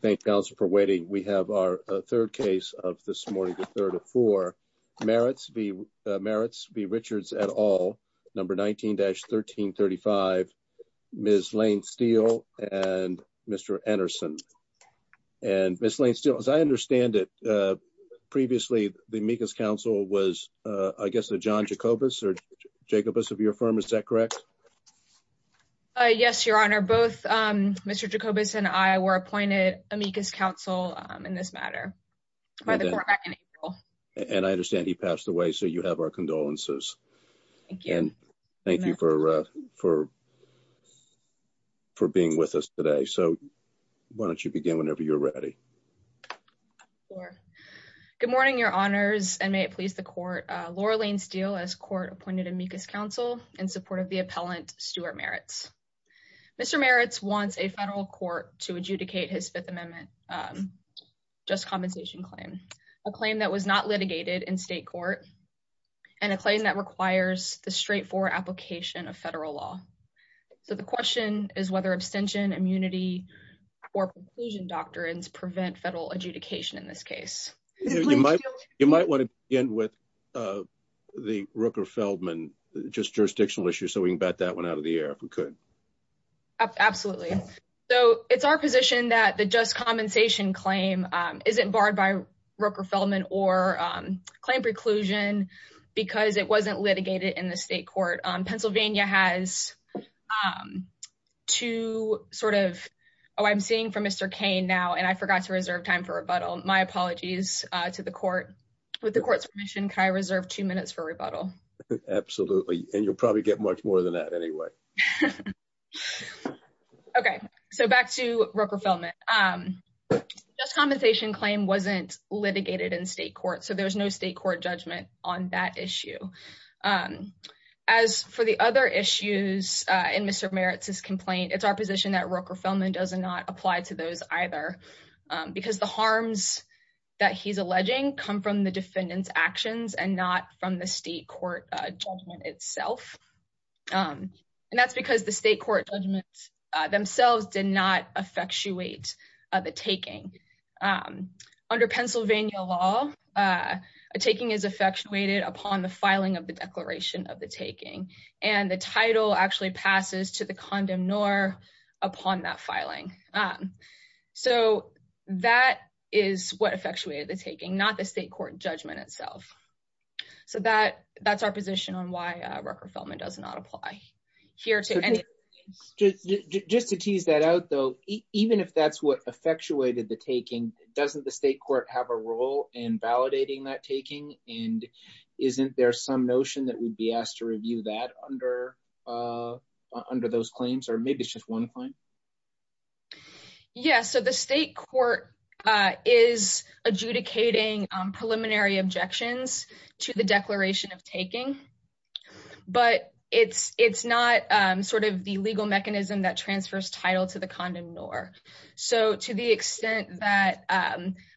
Thank you, counsel, for waiting. We have our third case of this morning, the third of four. Merritts v. Richards et al., number 19-1335, Ms. Lane-Steele and Mr. Anderson. And Ms. Lane-Steele, as I understand it, previously the amicus counsel was, I guess, a John Jacobus or Jacobus of your firm. Is that correct? Ms. Lane-Steele Yes, Your Honor. Both Mr. Jacobus and I were appointed amicus counsel in this matter by the court back in April. Merritts v. Richards And I understand he passed away, so you have our condolences. Ms. Lane-Steele Thank you. Merritts v. Richards And thank you for being with us today. So why don't you begin whenever you're ready. Ms. Lane-Steele Sure. Good morning, Your Honors, and may it please the court. Laura Lane-Steele, as court appointed amicus counsel in support of the appellant Stuart Merritts. Mr. Merritts wants a federal court to adjudicate his Fifth Amendment just compensation claim, a claim that was not litigated in state court, and a claim that requires the straightforward application of federal law. So the question is whether abstention, immunity, or conclusion doctrines prevent federal adjudication in this case. You might want to begin with the Rooker-Feldman just jurisdictional issue, so we can bat that one out of the air if we could. Ms. Lane-Steele Absolutely. So it's our position that the just compensation claim isn't barred by Rooker-Feldman or claim preclusion because it wasn't litigated in the state court. Pennsylvania has two sort of — oh, I'm seeing from Mr. Kane now, I forgot to reserve time for rebuttal. My apologies to the court. With the court's permission, can I reserve two minutes for rebuttal? Mr. Merritts Absolutely. And you'll probably get much more than that anyway. Ms. Lane-Steele Okay. So back to Rooker-Feldman. Just compensation claim wasn't litigated in state court, so there's no state court judgment on that issue. As for the other issues in Mr. Merritts' complaint, it's our position that because the harms that he's alleging come from the defendant's actions and not from the state court judgment itself. And that's because the state court judgments themselves did not effectuate the taking. Under Pennsylvania law, a taking is effectuated upon the filing of the declaration of the taking, and the title actually passes to the condemnor upon that filing. And so that is what effectuated the taking, not the state court judgment itself. So that's our position on why Rooker-Feldman does not apply here to any of these cases. Mr. Merritts Just to tease that out, though, even if that's what effectuated the taking, doesn't the state court have a role in validating that taking? And isn't there some notion that we'd be asked to review that under those claims, or maybe it's just one claim? Ms. O'Brien Yes. So the state court is adjudicating preliminary objections to the declaration of taking, but it's not sort of the legal mechanism that transfers title to the condemnor. So to the extent that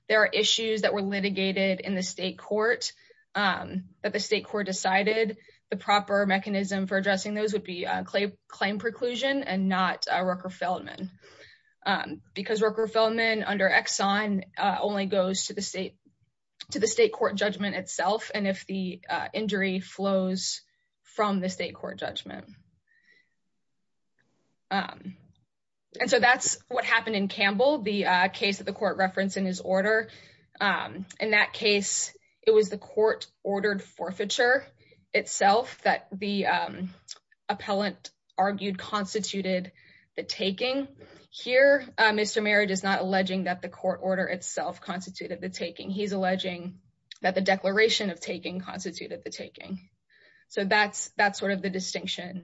there are issues that were litigated in the state court, that the state court decided the proper mechanism for addressing those would be claim preclusion and not Rooker-Feldman. Because Rooker-Feldman under Exxon only goes to the state court judgment itself, and if the injury flows from the state court judgment. And so that's what happened in Campbell, the case that the court referenced in his order. In that case, it was the court ordered forfeiture itself that the appellant argued constituted the taking. Here, Mr. Merritt is not alleging that the court order itself constituted the taking, he's alleging that the declaration of taking constituted the taking. So that's sort of the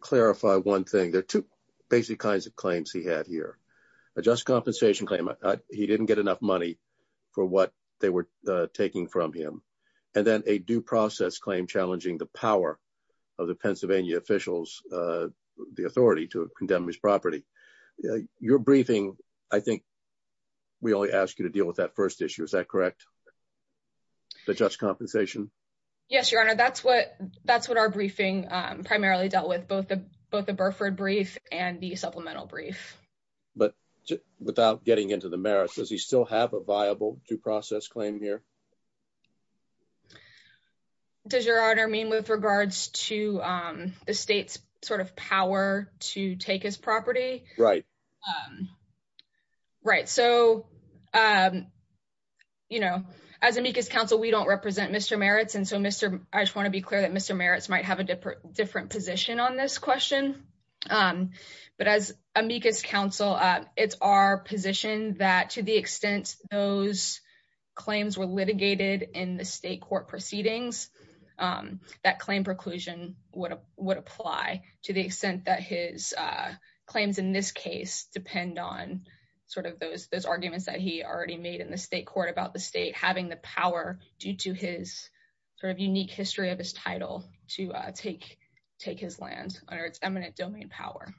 clarify one thing. There are two basic kinds of claims he had here. A just compensation claim, he didn't get enough money for what they were taking from him. And then a due process claim challenging the power of the Pennsylvania officials, the authority to condemn his property. Your briefing, I think we only asked you to deal with that first issue, is that correct? The just compensation? Ms. O'Brien Yes, Your Honor, that's what our briefing primarily dealt with, both the Burford brief and the supplemental brief. But without getting into the merits, does he still have a viable due process claim here? Does Your Honor mean with regards to the state's sort of power to take his property? Right. Right. So, you know, as amicus counsel, we don't represent Mr. Merritt's. And so, Mr. I just want to be clear that Mr. Merritt's might have a different position on this question. But as amicus counsel, it's our position that to the extent those claims were litigated in the state court proceedings, that claim preclusion would apply to the extent that his claims in this case depend on sort of those those arguments that he already made in the state court about the state having the power due to his sort of unique history of his title to take his land under its eminent domain power.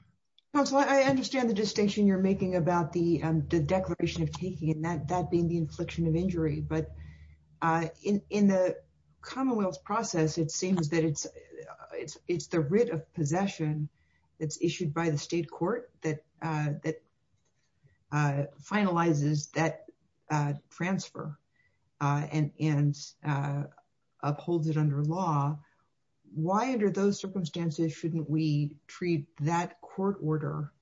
Counsel, I understand the distinction you're making about the declaration of taking and that being the infliction of injury. But in the Commonwealth's process, it seems that it's the writ of possession that's issued by the state court that finalizes that transfer and and upholds it under law. Why, under those circumstances, shouldn't we treat that court order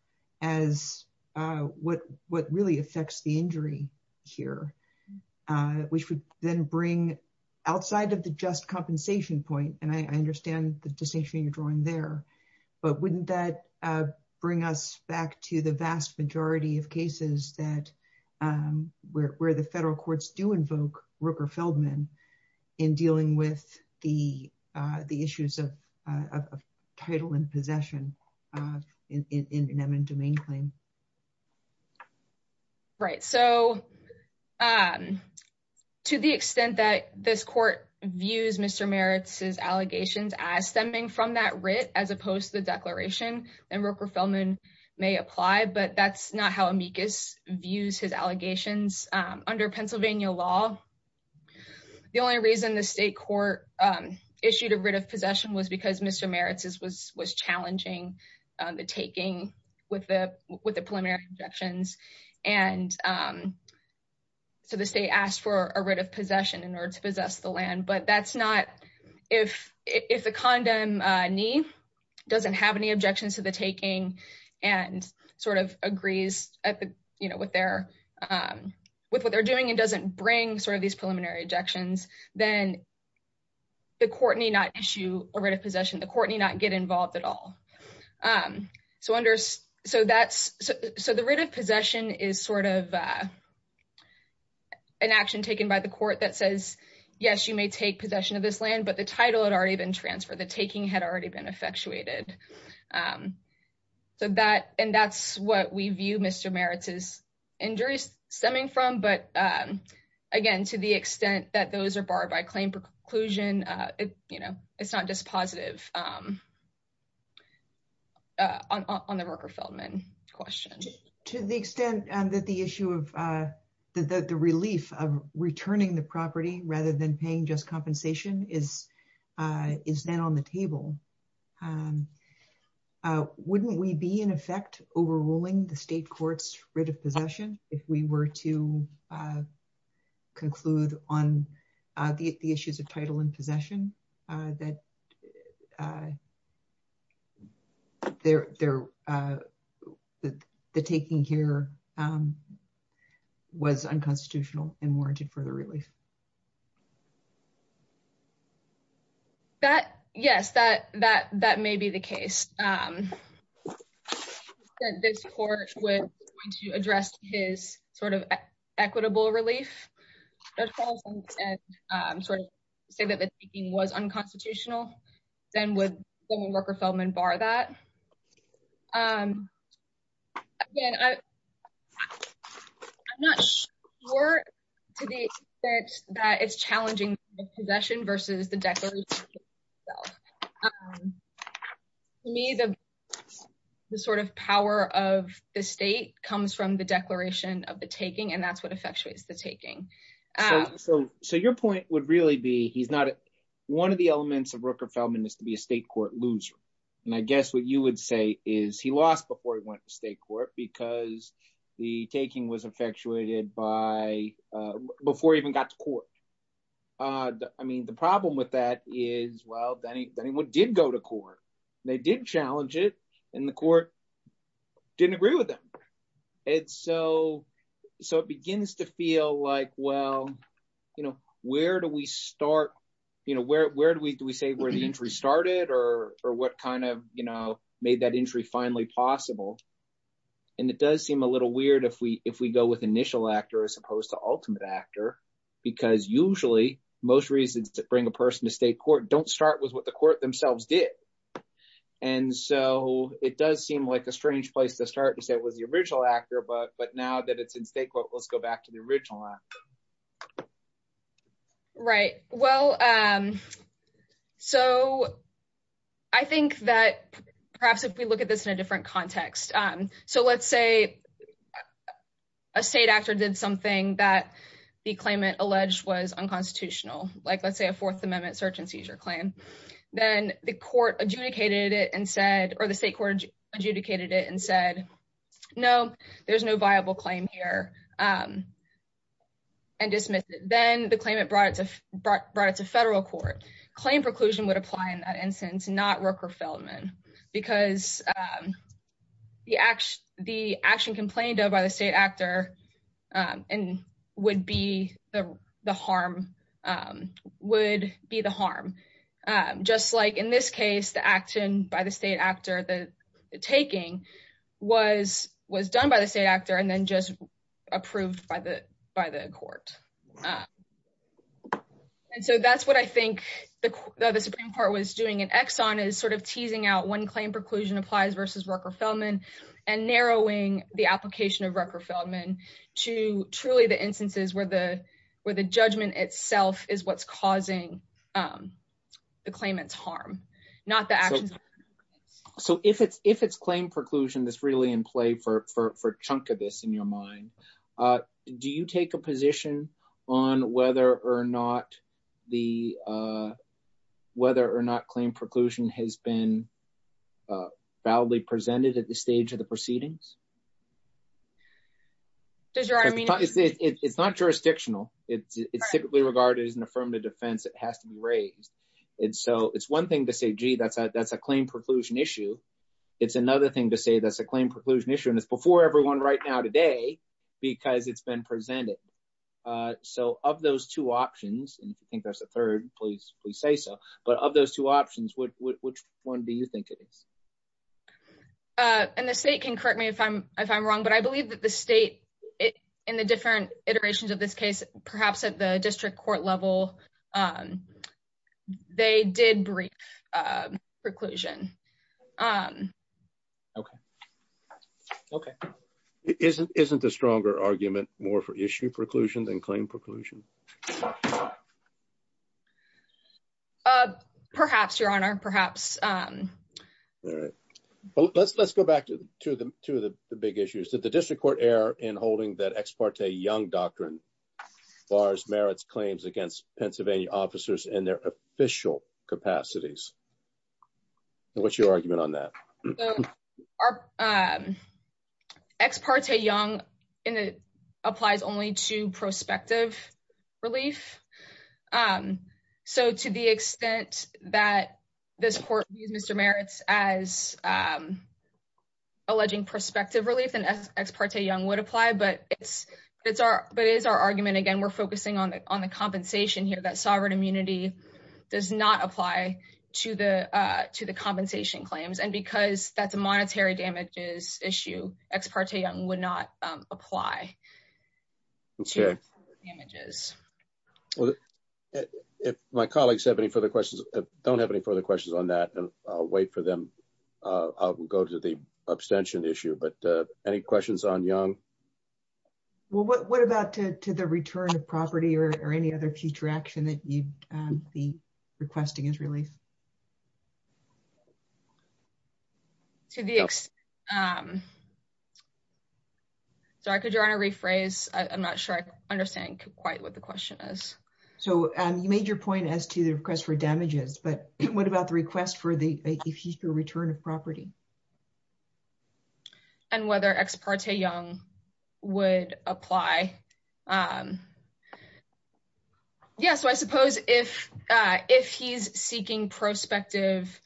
as what what really affects the injury here, which would then bring outside of the just compensation point? And I understand the distinction you're drawing there. But wouldn't that bring us back to the vast majority of cases where the federal courts do invoke Rooker-Feldman in dealing with the issues of title and possession in an eminent domain claim? Right. So to the extent that this court views Mr. Merritt's allegations as stemming from that writ as opposed to the declaration, then Rooker-Feldman may apply. But that's not how Amicus views his allegations. Under Pennsylvania law, the only reason the state court issued a writ of possession was because Mr. Merritt's was challenging the taking with the preliminary injections. And so the state asked for a writ of possession in order to possess the land. But that's not if if the condemnee doesn't have any objections to the taking and sort of agrees with what they're doing and doesn't bring sort of these preliminary injections, then the court may not issue a writ of possession. The court may not get involved at all. So the writ of possession is sort of an action taken by the court that says, yes, you may take possession of this land, but the title had already been transferred. The taking had already been effectuated. So that and that's what we view Mr. Merritt's injuries stemming from. But again, to the extent that those are barred by claim preclusion, it's not just positive on the Rooker-Feldman question. To the extent that the issue of the relief of returning the property rather than paying just compensation is is then on the table. Wouldn't we be in effect overruling the state court's writ of possession if we were to conclude on the issues of title and possession that the taking here was unconstitutional and warranted further relief? Yes, that may be the case. This court was going to address his sort of equitable relief and sort of say that the taking was unconstitutional. Then would Rooker-Feldman bar that? Again, I'm not sure to the extent that it's challenging the possession versus the declaration. To me, the sort of power of the state comes from the declaration of the taking, and that's what effectuates the taking. So your point would really be he's not one of the elements of Rooker-Feldman is to be a state court loser. And I guess what you would say is he lost before he went to state court because the taking was effectuated before he even got to court. I mean, the problem with that is, well, then he did go to court. They did challenge it, and the court didn't agree with them. And so it begins to feel like, well, where do we start? Where do we say where the injury started or what kind of made that injury finally possible? And it does seem a little weird if we go with initial actor as opposed to ultimate actor, because usually most reasons to bring a person to state court don't start with what the court themselves did. And so it does seem like a strange place to start to say it was the original actor, but now that it's in state court, let's go back to the original actor. Right. Well, so I think that perhaps if we look at this in a different context, so let's say a state actor did something that the claimant alleged was unconstitutional, like let's say a Fourth Amendment search and seizure claim. Then the court adjudicated it or the state court adjudicated it and said, no, there's no viable claim here and dismissed it. Then the claimant brought it to federal court. Claim preclusion would apply in that instance, not Rook or Feldman, because the action complained of by the state actor would be the harm. Just like in this case, the action by the state actor, the taking was done by the state actor and then just approved by the court. And so that's what I think the Supreme Court was doing in Exxon is sort of teasing out when to truly the instances where the where the judgment itself is what's causing the claimant's harm, not the actions. So if it's if it's claim preclusion, that's really in play for a chunk of this in your mind. Do you take a position on whether or not the whether or not claim preclusion has been validly presented at the stage of the proceedings? Does your I mean, it's not jurisdictional. It's typically regarded as an affirmative defense. It has to be raised. And so it's one thing to say, gee, that's that's a claim preclusion issue. It's another thing to say that's a claim preclusion issue. And it's before everyone right now today because it's been presented. So of those two options, and I think that's a third place, we say so. But of those two options, which one do you think it is? And the state can correct me if I'm if I'm wrong, but I believe that the state in the different iterations of this case, perhaps at the district court level, they did brief preclusion. Okay. Okay. Isn't isn't the stronger argument more for issue preclusion than claim preclusion? Um, perhaps, Your Honor, perhaps. All right. Well, let's let's go back to the two of the two of the big issues that the district court error in holding that ex parte young doctrine bars merits claims against Pennsylvania officers and their official capacities. What's your argument on that? Our ex parte young in the applies only to prospective relief. So to the extent that this court used Mr. merits as alleging prospective relief and ex parte young would apply, but it's, it's our, but it's our argument. Again, we're focusing on the on the compensation here that sovereign immunity does not apply to the, uh, to the compensation claims. And because that's a monetary damages issue, ex parte young would not apply images. If my colleagues have any further questions, don't have any further questions on that. And I'll wait for them. Uh, I'll go to the abstention issue, but, uh, any questions on young? Well, what, what about to, to the return of property or any other future action that you'd um, be requesting is really. To the, um, so I could join a rephrase. I'm not sure I understand quite what the question is. So, um, you made your point as to the request for damages, but what about the request for the future return of property? And whether ex parte young would apply. Um, yeah, so I suppose if, uh, if he's seeking prospective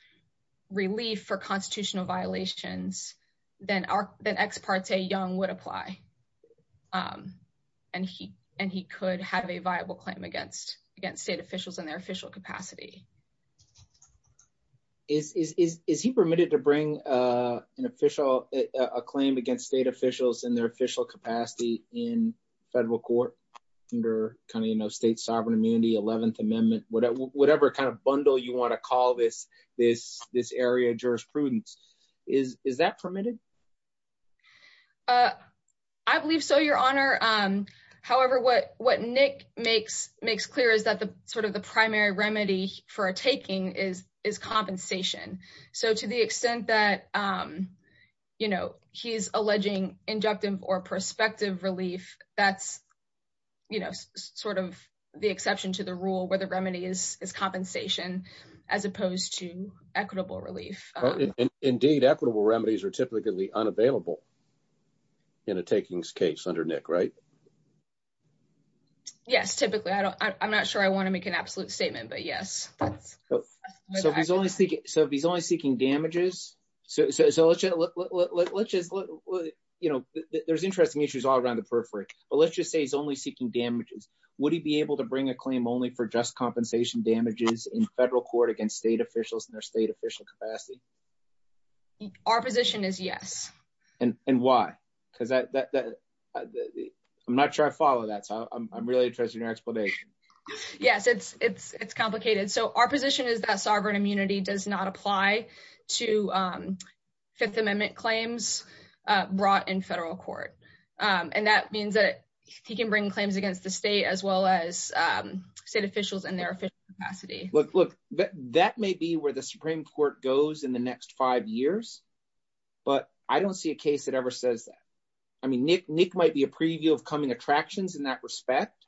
relief for constitutional violations, then our, then ex parte young would apply. And he, and he could have a viable claim against, against state officials in their official capacity. Is, is, is, is he permitted to bring, uh, an official, uh, a claim against state officials in their official capacity in federal court under kind of, you know, state sovereign immunity, 11th amendment, whatever, whatever kind of bundle you want to call this, this, this area of jurisprudence is, is that permitted? Uh, I believe so, your honor. Um, however, what, what Nick makes, makes clear is that the sort of the primary remedy for a taking is, is compensation. So to the extent that, um, you know, he's alleging injunctive or prospective relief, that's, you know, sort of the exception to the rule where the remedy is, is compensation as opposed to equitable relief. Indeed equitable remedies are typically unavailable in a takings case under Nick, right? Yes. Typically. I don't, I'm not sure I want to make an absolute statement, but yes. So if he's only seeking, so if he's only seeking damages, so, so, so let's just, let's just, you know, there's interesting issues all around the periphery, but let's just say he's only seeking damages. Would he be able to bring a claim only for just compensation damages in federal court against state officials in their state official capacity? Our position is yes. And why? Because I, I'm not sure I follow that. So I'm really interested in your explanation. Yes. It's, it's, it's complicated. So our position is that sovereign immunity does not apply to, um, fifth amendment claims, uh, brought in federal court. Um, and that means that he can bring claims against the state as well as, um, state officials in their official capacity. That may be where the Supreme court goes in the next five years, but I don't see a case that ever says that. I mean, Nick, Nick might be a preview of coming attractions in that respect,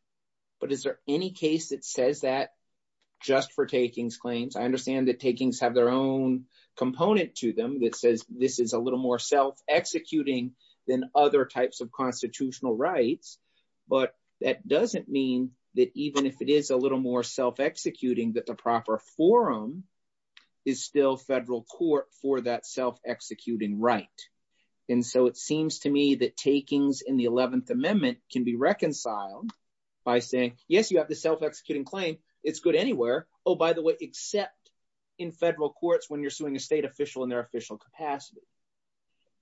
but is there any case that says that just for takings claims? I understand that takings have their own component to them that says this is a little more self executing than other types of constitutional rights, but that doesn't mean that even if it forum is still federal court for that self executing right. And so it seems to me that takings in the 11th amendment can be reconciled by saying, yes, you have the self-executing claim. It's good anywhere. Oh, by the way, except in federal courts, when you're suing a state official in their official capacity.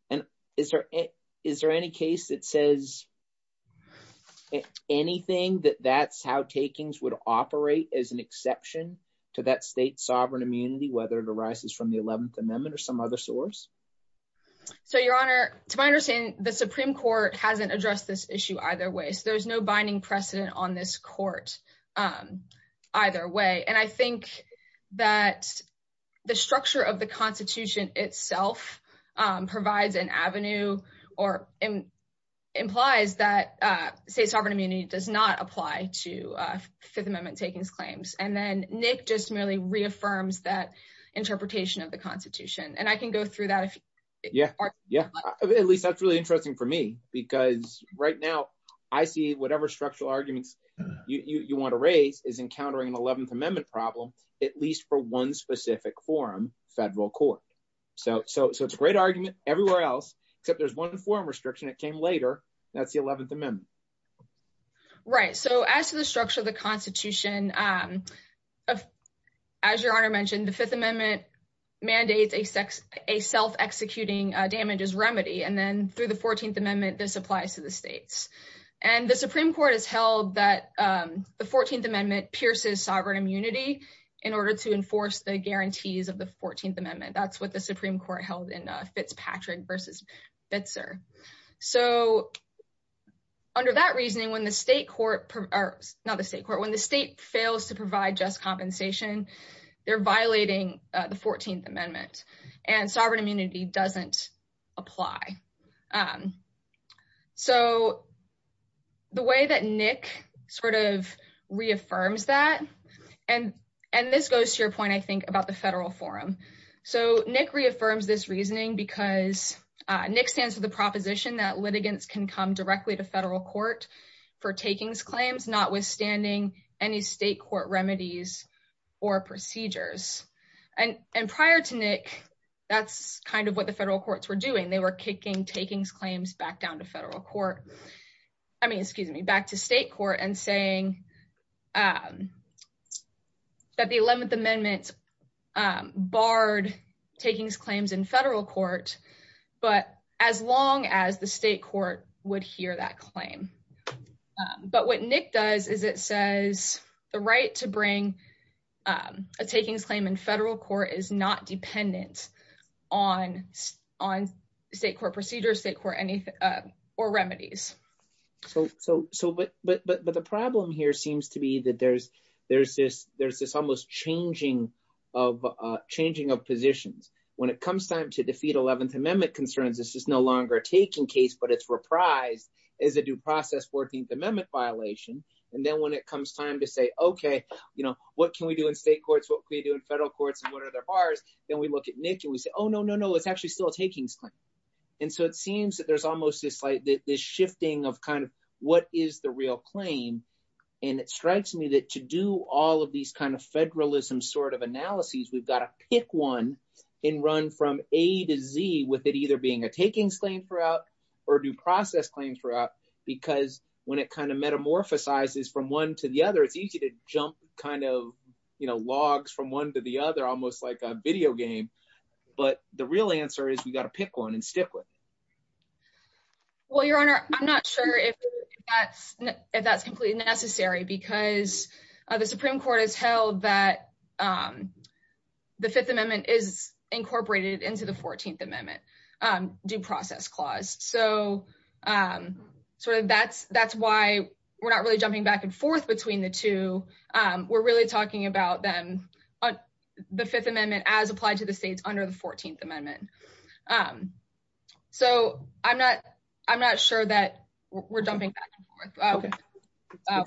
And is there, is there any case that says it, anything that that's how takings would operate as an exception to that state sovereign immunity, whether it arises from the 11th amendment or some other source. So your honor, to my understanding, the Supreme court hasn't addressed this issue either way. So there's no binding precedent on this court, um, either way. And I think that the structure of the constitution itself, um, provides an avenue or M implies that, uh, say sovereign immunity does not apply to, uh, fifth amendment takings claims. And then Nick just merely reaffirms that interpretation of the constitution. And I can go through that. Yeah. Yeah. At least that's really interesting for me because right now I see whatever structural arguments you want to raise is encountering an 11th amendment problem, at least for one specific forum federal court. So, so, so it's a great argument everywhere else, except there's one forum restriction that came later. That's the 11th amendment, right? So as to the structure of the constitution, um, as your honor mentioned, the fifth amendment mandates a sex, a self executing damages remedy. And then through the 14th amendment, this applies to the states and the Supreme court has held that, um, the 14th amendment pierces sovereign immunity in order to enforce the guarantees of the 14th amendment. That's what the Supreme court held in Fitzpatrick versus Bitzer. So under that reasoning, when the state court or not the state court, when the state fails to provide just compensation, they're violating the 14th amendment and sovereign doesn't apply. Um, so the way that Nick sort of reaffirms that, and, and this goes to your point, I think about the federal forum. So Nick reaffirms this reasoning because Nick stands for the proposition that litigants can come directly to federal court for takings claims, not withstanding any state court remedies or procedures. And, and prior to Nick, that's kind of what the federal courts were doing. They were kicking takings claims back down to federal court. I mean, excuse me, back to state court and saying, um, that the 11th amendment, um, barred takings claims in federal court, but as long as the state court would hear that claim. Um, but what Nick does is it says the right to bring, um, a takings claim in federal court is not dependent on, on state court procedures, state court, anything, uh, or remedies. So, so, so, but, but, but, but the problem here seems to be that there's, there's this, there's this almost changing of, uh, changing of positions when it comes time to defeat 11th amendment concerns. This is no longer a taking case, but it's reprised as a due process 14th amendment violation. And then when it comes time to say, okay, you know, what can we do in state courts? What can we do in federal courts? And what are their bars? Then we look at Nick and we say, oh no, no, no, it's actually still a takings claim. And so it seems that there's almost this like this shifting of kind of what is the real claim. And it strikes me that to do all of these federalism sort of analyses, we've got to pick one in run from A to Z with it either being a takings claim throughout or due process claims throughout, because when it kind of metamorphosis from one to the other, it's easy to jump kind of, you know, logs from one to the other, almost like a video game. But the real answer is we got to pick one and stick with it. Well, your honor, I'm not sure if that's, if that's completely necessary because the Supreme Court has held that the fifth amendment is incorporated into the 14th amendment due process clause. So sort of that's, that's why we're not really jumping back and forth between the two. We're really talking about them on the fifth amendment as applied to the states under the 14th amendment. So I'm not, I'm not sure that we're jumping back and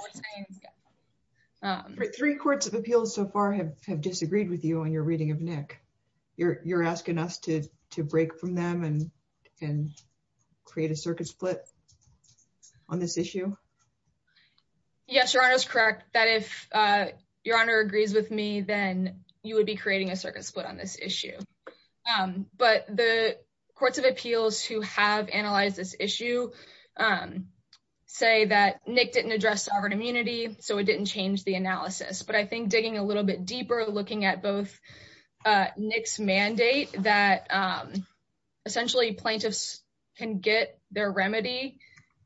forth. Three courts of appeals so far have disagreed with you on your reading of Nick. You're, you're asking us to, to break from them and, and create a circuit split on this issue. Yes, your honor is correct that if your honor agrees with me, then you would be creating a circuit split on this issue. But the courts of appeals who have analyzed this issue say that Nick didn't address sovereign immunity, so it didn't change the analysis. But I think digging a little bit deeper, looking at both Nick's mandate that essentially plaintiffs can get their remedy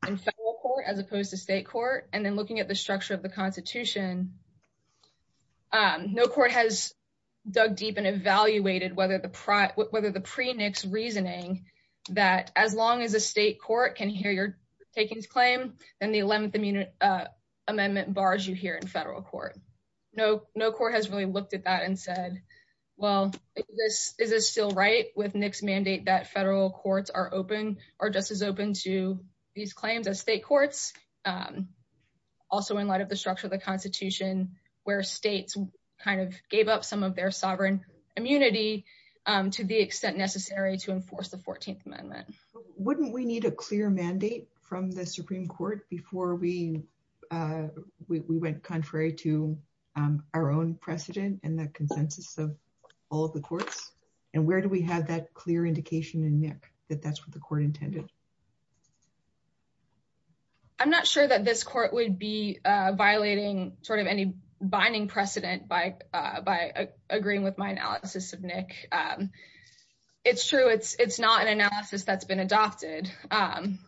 in federal court as opposed to state court. And then looking at the structure of the constitution, no court has dug deep and evaluated whether the, whether the pre-Nick's amendment bars you here in federal court. No, no court has really looked at that and said, well, this, is this still right with Nick's mandate that federal courts are open, are just as open to these claims as state courts. Also in light of the structure of the constitution where states kind of gave up some of their sovereign immunity to the extent necessary to enforce the 14th amendment. Wouldn't we need a clear mandate from the Supreme Court before we we went contrary to our own precedent and the consensus of all of the courts? And where do we have that clear indication in Nick that that's what the court intended? I'm not sure that this court would be violating sort of any binding precedent by, by agreeing with my analysis of Nick. It's true, it's, it's not an analysis that's been adopted. Um,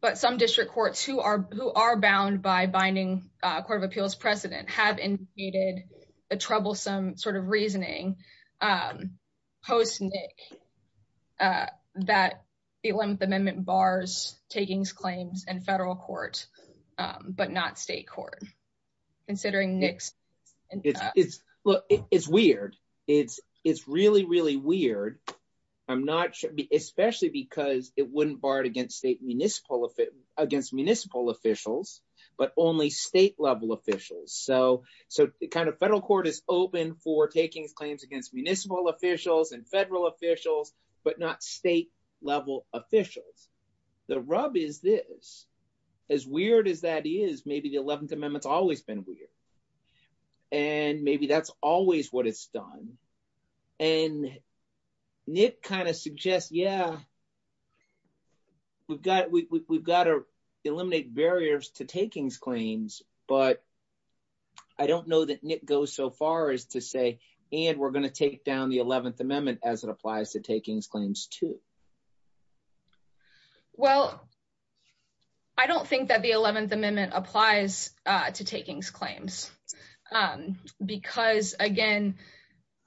but some district courts who are, who are bound by binding, uh, court of appeals precedent have indicated a troublesome sort of reasoning, um, post Nick, uh, that the 11th amendment bars takings claims and federal court, um, but not state court considering Nick's. Look, it's weird. It's, it's really, really weird. I'm not sure, especially because it wouldn't bar it against state municipal, against municipal officials, but only state level officials. So, so kind of federal court is open for takings claims against municipal officials and federal officials, but not state level officials. The rub is this as weird as that is maybe the 11th and maybe that's always what it's done. And Nick kind of suggests, yeah, we've got, we we've got to eliminate barriers to takings claims, but I don't know that Nick goes so far as to say, and we're going to take down the 11th amendment as it applies to takings claims. Um, because again,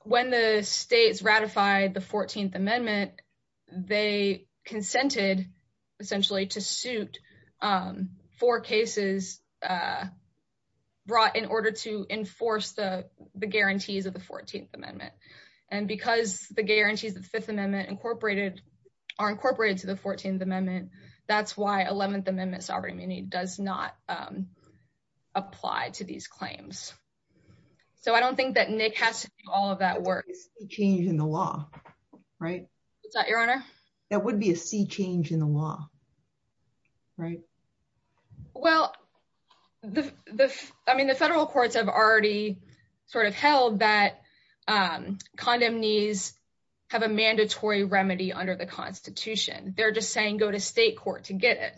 when the states ratified the 14th amendment, they consented essentially to suit, um, four cases, uh, brought in order to enforce the guarantees of the 14th amendment. And because the guarantees of the fifth amendment incorporated are incorporated to the 14th amendment, that's why 11th amendment sovereignty does not, um, apply to these claims. So I don't think that Nick has to do all of that work change in the law, right? Is that your honor? That would be a sea change in the law, right? Well, I mean, the federal courts have already sort of held that, um, condom needs have a mandatory remedy under the constitution. They're just saying, go to state court to get it.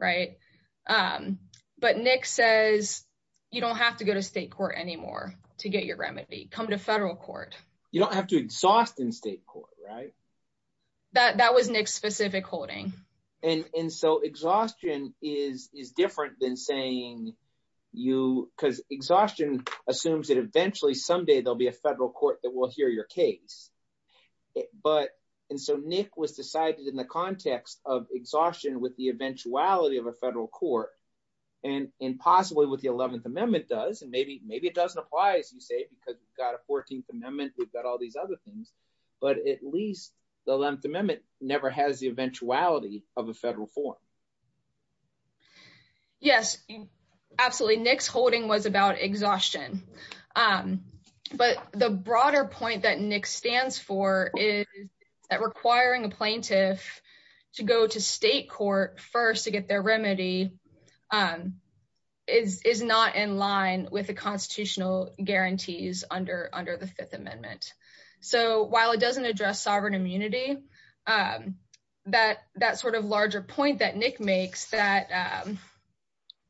Right. Um, but Nick says you don't have to go to state court anymore to get your remedy, come to federal court. You don't have to exhaust in state court, right? That, that was Nick's specific holding. And, and so exhaustion is, is different than saying you, cause exhaustion assumes that eventually someday there'll be a federal court that will hear your case. But, and so Nick was decided in the context of exhaustion with the eventuality of a federal court and, and possibly with the 11th amendment does, and maybe, maybe it doesn't apply as you say, because you've got a 14th amendment, we've got all these other things, but at least the 11th amendment never has the eventuality of a federal form. Yes, absolutely. Nick's holding was about exhaustion. Um, but the broader point that Nick stands for is that requiring a plaintiff to go to state court first to get their remedy, um, is, is not in line with the constitutional guarantees under, under the fifth amendment. So while it doesn't address sovereign immunity, um, that, that sort of larger point that Nick makes that, um,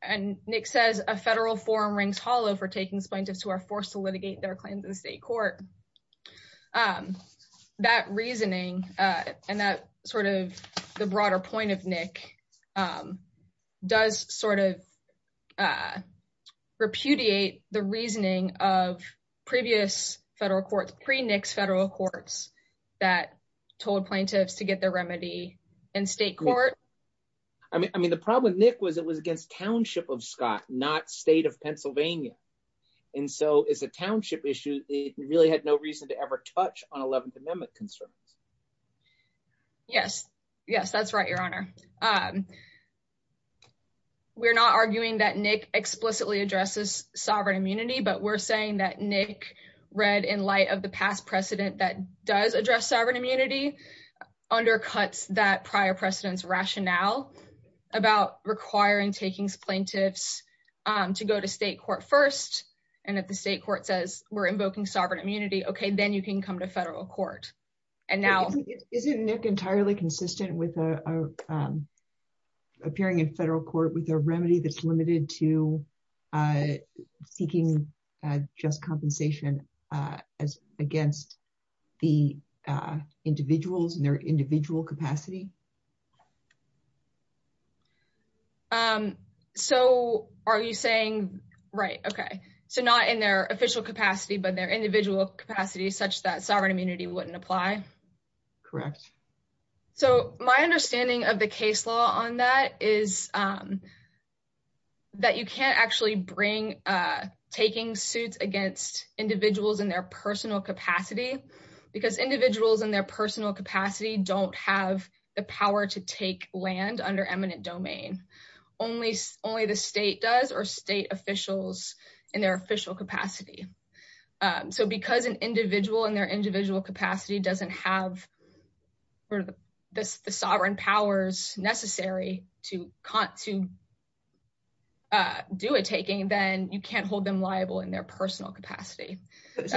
and Nick says a federal forum rings hollow for taking plaintiffs who are forced to litigate their claims in state court, um, that reasoning, uh, and that sort of the broader point of Nick, um, does sort of, uh, repudiate the reasoning of previous federal courts, pre-Nick's federal courts that told plaintiffs to get their remedy in state court. I mean, I mean, the problem with Nick was it was against township of Scott, not state of Pennsylvania. And so as a township issue, it really had no reason to ever touch on 11th amendment concerns. Yes, yes, that's right. Your honor. Um, we're not arguing that Nick explicitly addresses sovereign immunity, but we're saying that Nick read in light of the past precedent that does address sovereign immunity undercuts that prior precedents rationale about requiring takings plaintiffs, um, to go to state court first. And if the state court says we're invoking sovereign immunity, okay, then you can come to federal court. And now isn't Nick entirely consistent with, uh, um, appearing in federal court with a remedy that's limited to, uh, seeking, uh, just compensation, uh, as against the, uh, individuals and their individual capacity. Um, so are you saying, right. Okay. So not in their official capacity, but their individual capacity such that sovereign immunity wouldn't apply. Correct. So my understanding of the case law on that is, um, that you can't actually bring, uh, taking suits against individuals in their personal capacity because individuals in their personal capacity, don't have the power to take land under eminent domain. Only, only the state does or state officials in their official capacity. Um, so because an individual in their individual capacity doesn't have this, the sovereign powers necessary to con to, uh, do a taking, then you can't hold them liable in their personal capacity. Is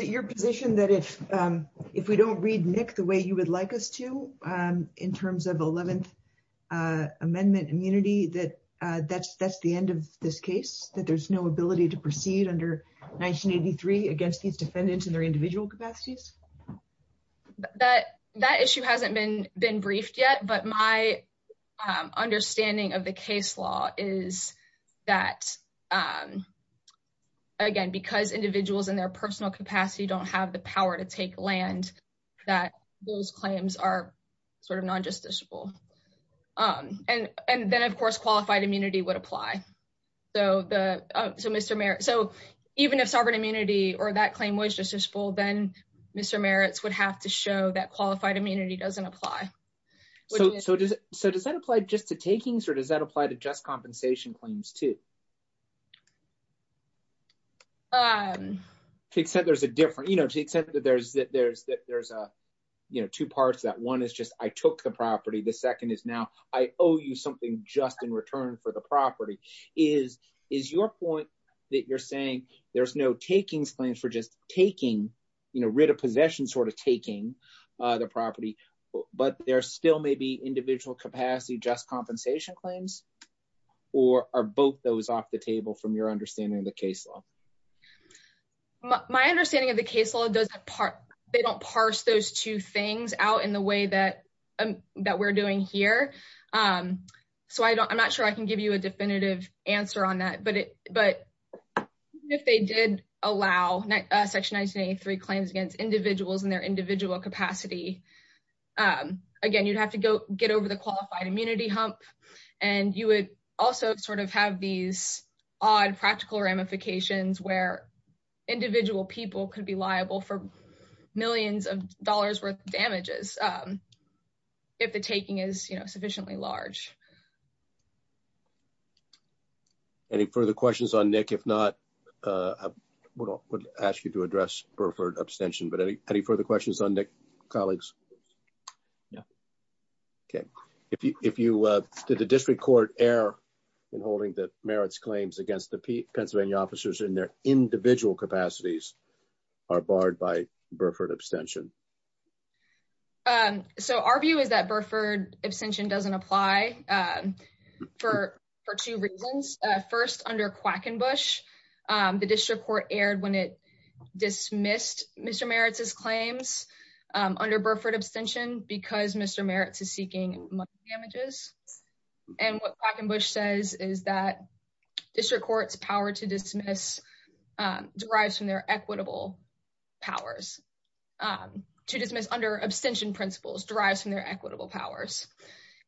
it your position that if, um, if we don't read Nick the way you would like us to, um, in terms of 11th, uh, amendment immunity, that, uh, that's, that's the end of this case that there's no ability to proceed under 1983 against these defendants in their individual capacities. That, that issue hasn't been, been briefed yet, but my, um, understanding of the case law is that, um, again, because individuals in their personal capacity don't have the power to take land that those claims are sort of non-justiciable. Um, and, and then of course, qualified immunity would apply. So the, uh, so Mr. Merritt, so even if sovereign immunity or that claim was just as full, then Mr. Merritt's would have to show that qualified immunity doesn't apply. So, so does, so does that apply just to takings or does that apply to just compensation claims too? Um, except there's a different, you know, except that there's, there's, there's a, you know, two parts of that. One is just, I took the property. The second is I owe you something just in return for the property is, is your point that you're saying there's no takings claims for just taking, you know, writ of possession, sort of taking, uh, the property, but there still may be individual capacity, just compensation claims, or are both those off the table from your understanding of the case law? My understanding of the case law doesn't part, they don't parse those two things out in the way that we're doing here. Um, so I don't, I'm not sure I can give you a definitive answer on that, but, but if they did allow section 1983 claims against individuals in their individual capacity, um, again, you'd have to go get over the qualified immunity hump and you would also sort of have these odd practical ramifications where individual people could be liable for millions of dollars damages. Um, if the taking is, you know, sufficiently large. Any further questions on Nick, if not, uh, I would ask you to address Burford abstention, but any, any further questions on Nick colleagues? Yeah. Okay. If you, if you, uh, did the district court err in holding that merits claims against the Pennsylvania officers in their um, so our view is that Burford abstention doesn't apply, um, for, for two reasons. Uh, first under Quackenbush, um, the district court aired when it dismissed Mr. Merit's claims, um, under Burford abstention, because Mr. Merit's is seeking money damages. And what Quackenbush says is that district court's power to dismiss, um, derives from their equitable powers, um, to dismiss under abstention principles derives from their equitable powers.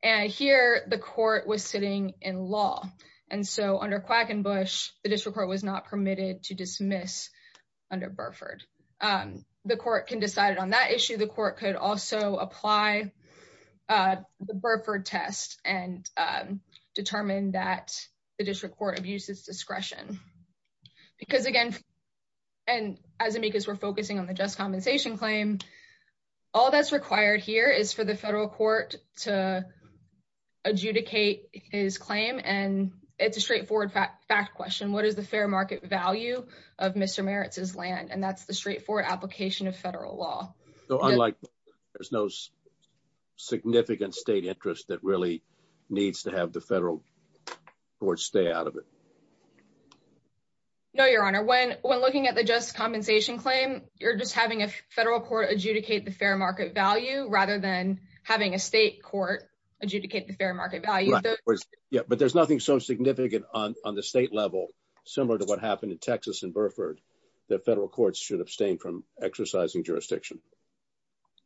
And here the court was sitting in law. And so under Quackenbush, the district court was not permitted to dismiss under Burford. Um, the court can decide it on that issue. The court could also apply, uh, the Burford test and, um, determine that the district court abuses discretion because again, and as amicus, we're focusing on the just compensation claim. All that's required here is for the federal court to adjudicate his claim. And it's a straightforward fact question. What is the fair market value of Mr. Merit's land? And that's the straightforward application of federal law. So unlike there's no significant state interest that really needs to have the federal court stay out of it. No, your honor. When, when looking at the just compensation claim, you're just having a federal court adjudicate the fair market value rather than having a state court adjudicate the fair market value. Yeah. But there's nothing so significant on, on the state level, similar to what happened in Texas and Burford that federal courts should abstain from exercising jurisdiction.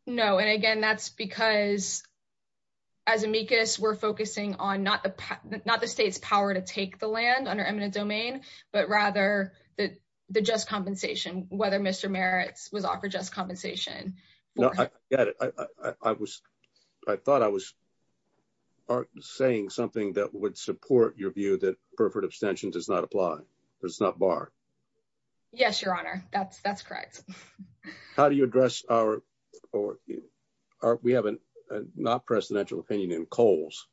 No. And again, that's because as amicus we're focusing on not the, not the state's power to take the land under eminent domain, but rather the, the just compensation, whether Mr. Merit's was offered just compensation. No, I get it. I was, I thought I was saying something that would support your view that Burford abstention does not apply. There's not bar. Yes, your honor. That's, that's correct. How do you address our, or are we haven't not presidential opinion in coals?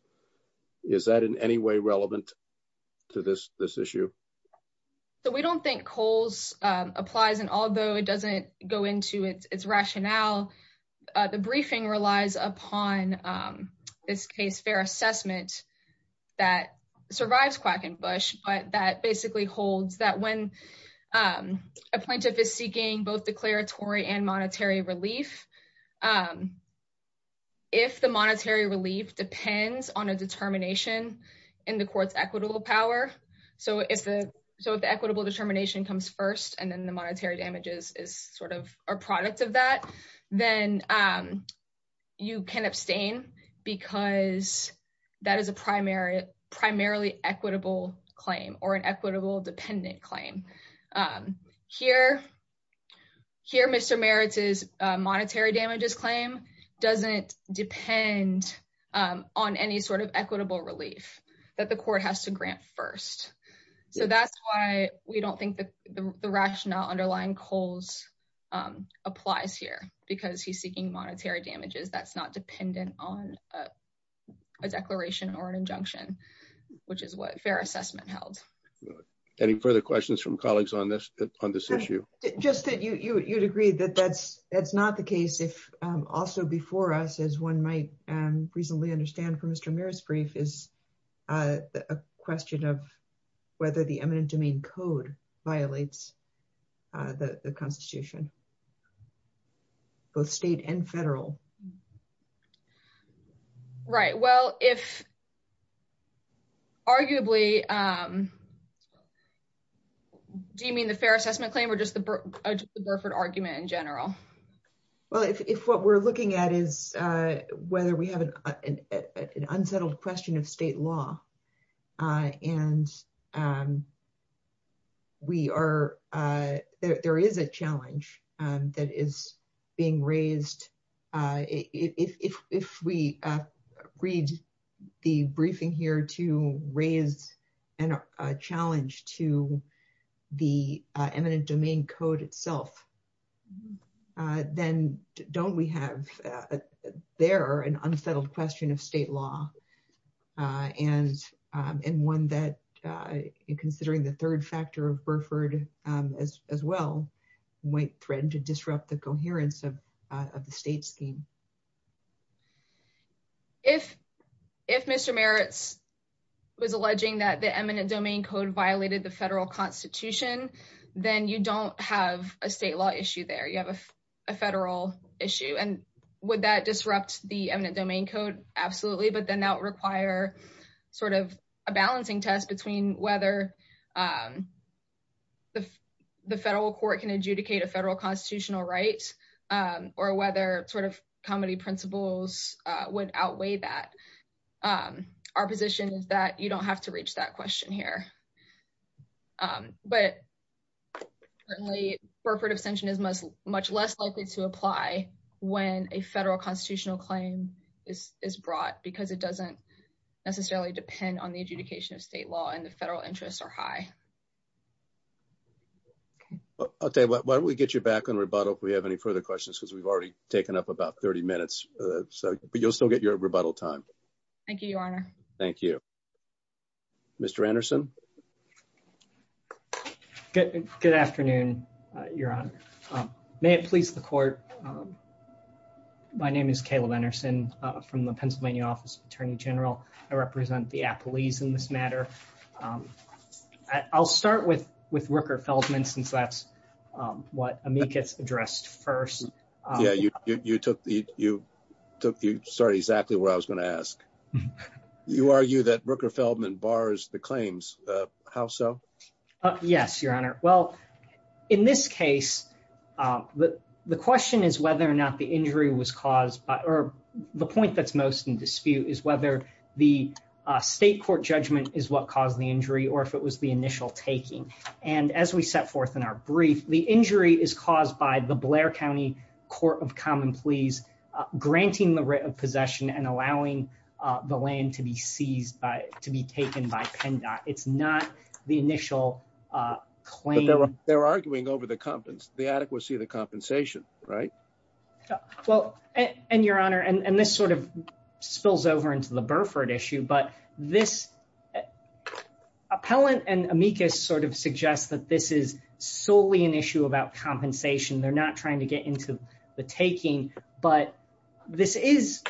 Is that in any way relevant to this, this issue? So we don't think coals applies and although it doesn't go into it, it's rationale. The briefing relies upon this case, fair assessment that survives quack and Bush, but that basically holds that when a plaintiff is seeking both declaratory and monetary relief, if the monetary relief depends on a determination in the court's equitable power. So if the, so if the equitable determination comes first and then the monetary damages is sort of a product of then you can abstain because that is a primary primarily equitable claim or an equitable dependent claim here. Here, Mr. Merit's is a monetary damages claim. Doesn't depend on any sort of equitable relief that the court has to grant first. So that's why we don't think the rationale underlying coals applies here because he's seeking monetary damages. That's not dependent on a declaration or an injunction, which is what fair assessment held. Any further questions from colleagues on this, on this issue? Just that you, you, you'd agree that that's, that's not the case. If also before us, as one might reasonably understand from Mr. Merit's brief is a question of whether the eminent domain code violates the constitution, both state and federal. Right. Well, if arguably, do you mean the fair assessment claim or just the Burford argument in general? Well, if, if what we're looking at is whether we have an unsettled question of state law and we are there, there is a challenge that is being raised. If, if, if we read the briefing here to raise a challenge to the eminent domain code itself, then don't we have there an unsettled question of state law? And, and one that considering the third factor of Burford as well, might threaten to disrupt the coherence of, of the state scheme. If, if Mr. Merit's was alleging that the eminent domain code violated the federal constitution, then you don't have a state law issue there. You have a federal issue. And would that disrupt the eminent domain code? Absolutely. But then that would require sort of a balancing test between whether the, the federal court can adjudicate a federal constitutional rights or whether sort of comedy principles would outweigh that. Our position is that you don't have to reach that question here. But certainly Burford abstention is much, much less likely to apply when a federal constitutional claim is, is brought because it doesn't necessarily depend on the adjudication of state law and the federal interests are high. Okay. Why don't we get you back on rebuttal? If we have any further questions, cause we've already taken up about 30 minutes, so, but you'll still get your rebuttal time. Thank you, Your Honor. Thank you, Mr. Anderson. Good, good afternoon, Your Honor. May it please the court. My name is Caleb Anderson from the Pennsylvania office of attorney general. I represent the Apple ease in this matter. I'll start with, with Rooker Feldman since that's what gets addressed first. Yeah, you, you took the, you took, you started exactly where I was going to ask. You argue that Rooker Feldman bars the claims how so? Yes, Your Honor. Well, in this case the, the question is whether or not the injury was caused by, or the point that's most in dispute is whether the state court judgment is what caused the injury or if it was the initial taking. And as we set forth in our brief, the injury is caused by the Blair County court of common pleas granting the writ of possession and allowing the land to be seized by, to be taken by PennDOT. It's not the initial claim. They're arguing over the competence, the adequacy of the compensation, right? Well, and Your Honor, and this sort of spills over into the Burford issue, but this appellant and amicus sort of suggest that this is solely an issue about compensation. They're not trying to get into the taking, but this is,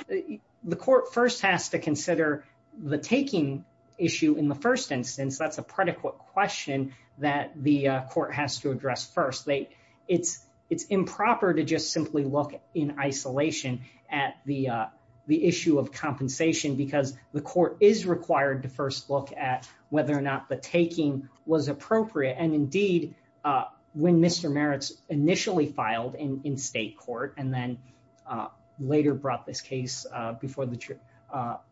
the court first has to consider the taking issue in the first instance. That's a predicate question that the court has to address first. They, it's, it's improper to just simply look in isolation at the, the issue of compensation because the court is required to first look at whether or not the taking was appropriate. And indeed when Mr. Maritz initially filed in, in state court, and then later brought this case before the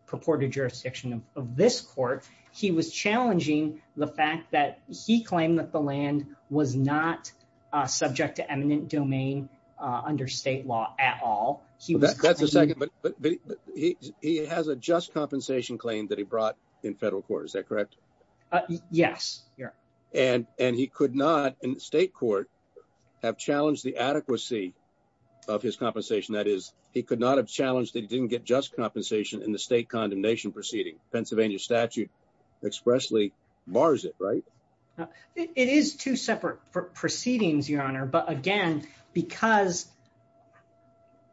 purported jurisdiction of this court, he was challenging the fact that he claimed that the land was not subject to eminent domain under state law at all. That's a second, but he has a just compensation claim that he brought in federal court. Is that correct? Yes, Your Honor. And, and he could not in state court have challenged the adequacy of his compensation. That is, he could not have challenged that he didn't get just compensation in the state condemnation proceeding. Pennsylvania statute expressly bars it, right? It is two separate proceedings, Your Honor, but again, because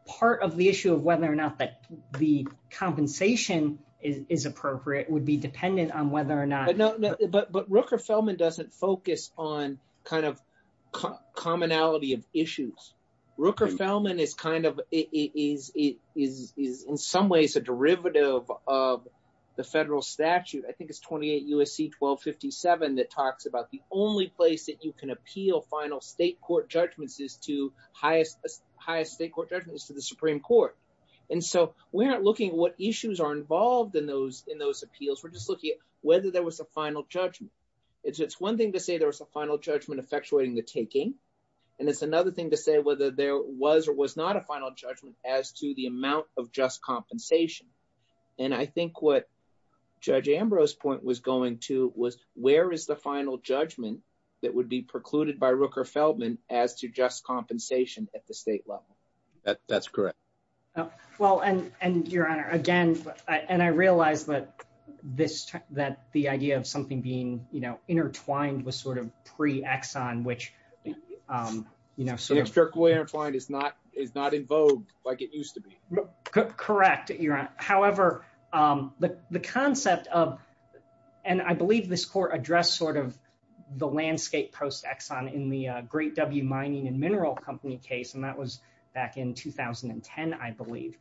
part of the issue of whether or not that the compensation is appropriate would be dependent on whether or not. But, but, but Rooker-Felman doesn't focus on kind of commonality of issues. Rooker-Felman is kind of, is, is, is, is in some ways a derivative of the federal statute. I think it's 28 U.S.C. 1257 that talks about the only place that you can appeal final state court judgments is to highest, highest state court judgments to the Supreme Court. And so we're not looking at issues are involved in those, in those appeals. We're just looking at whether there was a final judgment. It's, it's one thing to say there was a final judgment effectuating the taking. And it's another thing to say whether there was or was not a final judgment as to the amount of just compensation. And I think what judge Ambrose point was going to was where is the final judgment that would be precluded by Rooker-Felman as to just compensation at the And I realized that this, that the idea of something being, you know, intertwined was sort of pre-Exxon, which, you know, is not, is not in vogue like it used to be. Correct. You're right. However the, the concept of, and I believe this court addressed sort of the landscape post-Exxon in the Great W Mining and Mineral Company case. And that was back in 2010, I believe.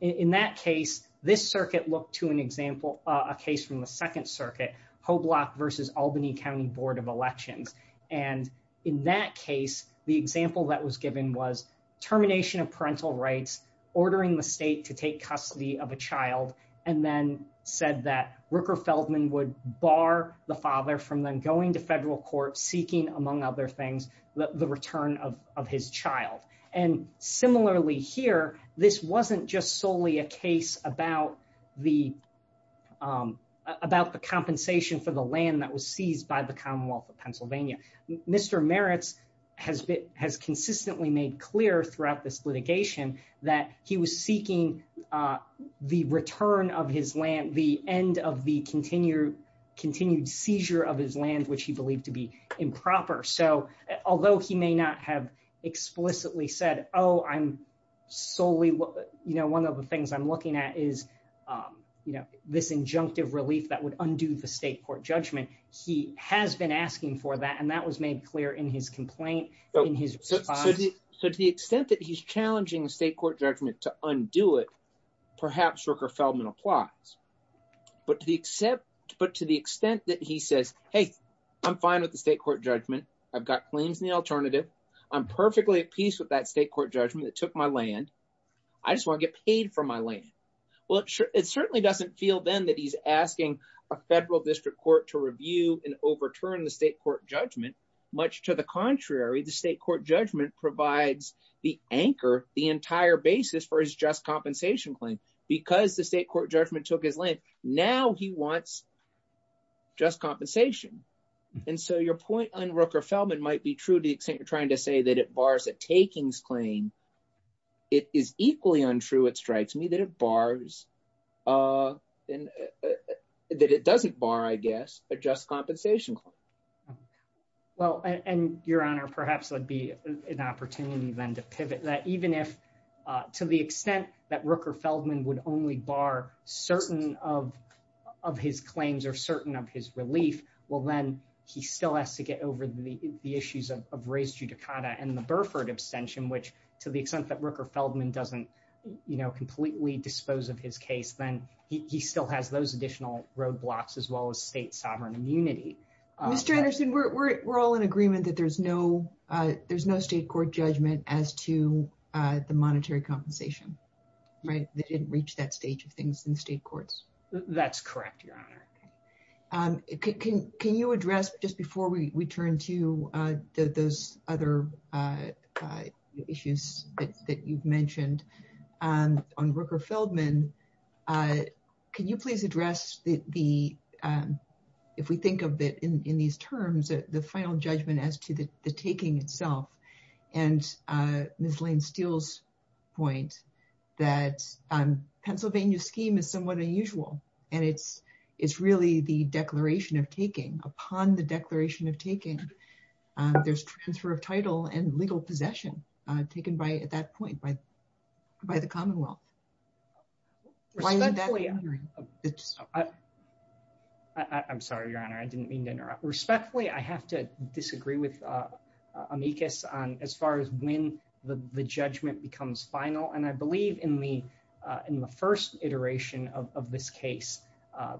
In that case, this circuit looked to an example, a case from the second circuit, Hoblock versus Albany County Board of Elections. And in that case, the example that was given was termination of parental rights, ordering the state to take custody of a child, and then said that Rooker-Felman would bar the father from then going to federal court seeking, among other things, the return of his child. And similarly here, this wasn't just solely a case about the, about the compensation for the land that was seized by the Commonwealth of Pennsylvania. Mr. Meritz has been, has consistently made clear throughout this litigation that he was seeking the return of his land, the end of the continued, continued seizure of his land, which he believed to be improper. So although he may not have explicitly said, oh, I'm solely, you know, one of the things I'm looking at is, you know, this injunctive relief that would undo the state court judgment. He has been asking for that, and that was made clear in his complaint. So to the extent that he's challenging the state court judgment to undo it, perhaps Rooker-Felman applies. But to the extent that he says, hey, I'm fine with the state court judgment. I've got claims in the alternative. I'm perfectly at peace with that state court judgment that took my land. I just want to get paid for my land. Well, it certainly doesn't feel then that he's asking a federal district court to review and overturn the state court judgment. Much to the contrary, the state court judgment provides the anchor, the entire basis for his just compensation claim. Because the state court judgment took his land, now he wants just compensation. And so your point on Rooker-Felman might be true to the extent you're trying to say that it bars a takings claim. It is equally untrue, it strikes me, that it bars, that it doesn't bar, I guess, a just compensation claim. Well, and Your Honor, perhaps there'd be an opportunity then to pivot that even if, to the extent that Rooker-Felman would only bar certain of his claims or certain of his relief, well, then he still has to get over the issues of raised judicata and the Burford abstention, which to the extent that Rooker-Felman doesn't completely dispose of his case, then he still has those additional roadblocks as well as state sovereign immunity. Mr. Anderson, we're all in agreement that there's no state court judgment as to the monetary compensation, right? They didn't reach that stage of things in state courts. That's correct, Your Honor. Can you address, just before we turn to those other issues that you've mentioned on Rooker-Felman, can you please address the, if we think of it in these terms, the final judgment as to the taking itself and Ms. Lane-Steele's point that Pennsylvania's scheme is somewhat unusual and it's really the declaration of taking. Upon the declaration of taking, there's transfer of title and legal possession taken by, at that point, by the commonwealth. I'm sorry, Your Honor. I didn't mean to interrupt. Respectfully, I have to disagree with Amicus on as far as when the judgment becomes final, and I believe in the first iteration of this case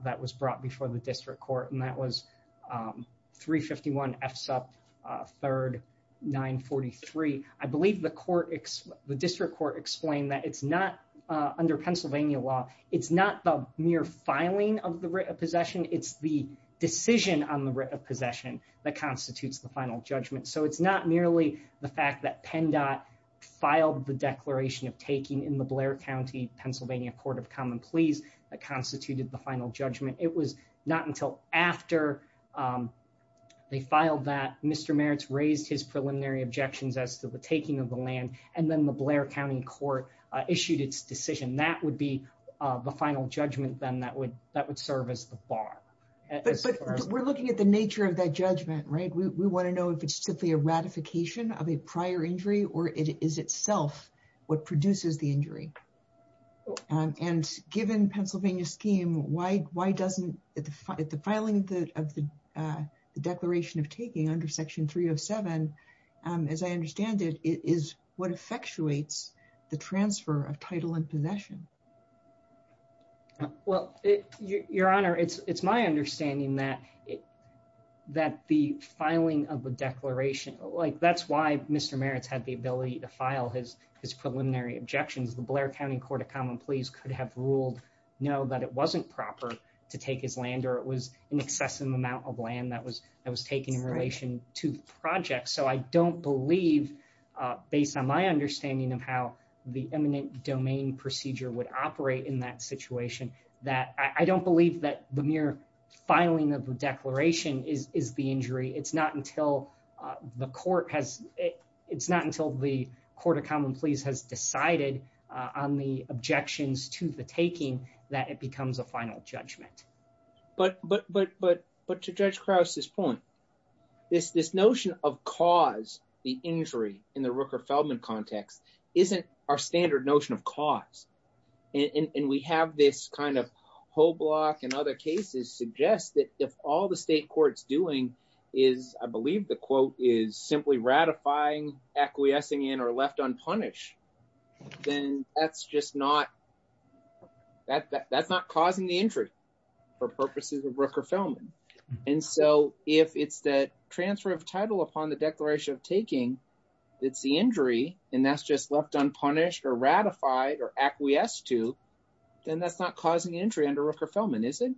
that was brought before the district court, and that was 351 F SUP 3rd 943. I believe the district court explained that it's not, under Pennsylvania law, it's not the mere filing of the writ of possession. It's the decision on the writ of possession that constitutes the final judgment. So it's not merely the fact that PennDOT filed the declaration of taking in the Blair County, Pennsylvania Court of Common Pleas, that constituted the final judgment. It was not until after they filed that Mr. Maritz raised his preliminary objections as to the taking of the land and then the Blair County court issued its decision. That would be the final judgment then that would serve as the bar. But we're looking at the nature of that judgment, right? We want to know if it's simply a ratification of a prior injury or it is itself what produces the injury. And given Pennsylvania's scheme, why doesn't the filing of the declaration of taking under section 307, as I understand it, is what effectuates the transfer of title and possession? Well, your honor, it's my understanding that the filing of the declaration, like that's why Mr. Maritz had the ability to file his preliminary objections. The Blair County Court of Common Pleas could have ruled no, that it wasn't proper to take his land or it was an excessive amount of land that was taken in relation to the project. So I don't believe, based on my understanding of how the eminent domain procedure would operate in that situation, that I don't believe that the mere filing of the declaration is the injury. It's not until the court has, it's not until the Court of Common Pleas has decided on the objections to the taking that it becomes a final judgment. But to Judge Krause's point, this notion of cause the injury in the Rooker-Feldman context isn't our standard notion of cause. And we have this kind of simply ratifying, acquiescing in, or left unpunished, then that's just not, that's not causing the injury for purposes of Rooker-Feldman. And so if it's the transfer of title upon the declaration of taking, it's the injury, and that's just left unpunished or ratified or acquiesced to, then that's not causing injury under Rooker-Feldman, is it?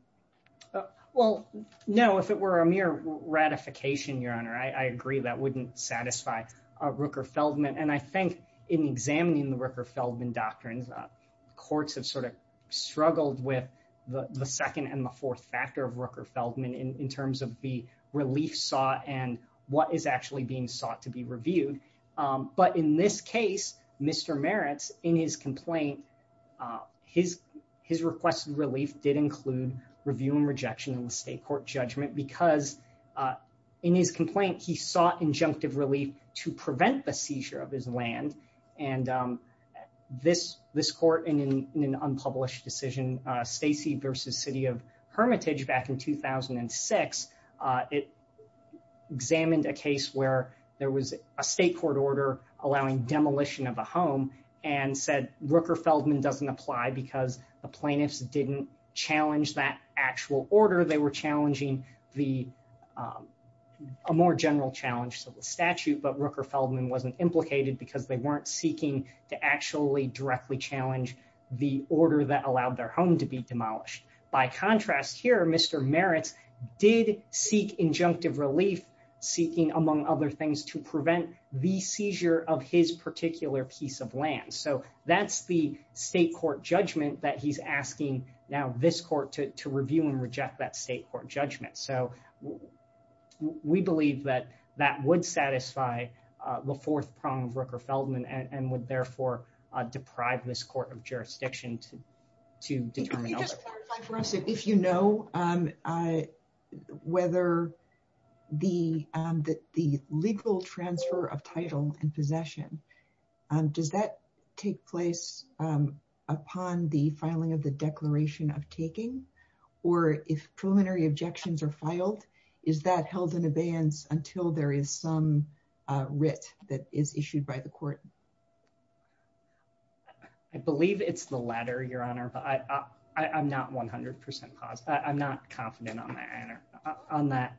Well, no, if it were a mere ratification, Your Honor, I agree that wouldn't satisfy Rooker-Feldman. And I think in examining the Rooker-Feldman doctrines, courts have sort of struggled with the second and the fourth factor of Rooker-Feldman in terms of the relief sought and what is actually being sought to be reviewed. But in this case, Mr. Meritz, in his complaint, his requested relief did include review and rejection in the state court judgment because in his complaint, he sought injunctive relief to prevent the seizure of his land. And this court, in an unpublished decision, Stacey v. City of Hermitage back in 2006, it examined a case where there was a state court order allowing demolition of a home and said Rooker-Feldman doesn't apply because the plaintiffs didn't challenge that actual order. They were challenging a more general challenge to the statute, but Rooker-Feldman wasn't implicated because they weren't seeking to actually directly challenge the order that allowed their home to be demolished. By contrast here, Mr. Meritz did seek injunctive relief seeking, among other things, to prevent the seizure of his particular piece of land. So that's the state court judgment that he's asking now this court to review and reject that state court judgment. So we believe that that would satisfy the fourth prong of Rooker-Feldman and would therefore deprive this court of jurisdiction to determine. Can you just clarify for us if you know whether the legal transfer of title and possession, does that take place upon the filing of the declaration of taking? Or if preliminary objections are filed, is that held in abeyance until there is some court? I believe it's the latter, Your Honor, but I'm not 100% positive. I'm not confident on that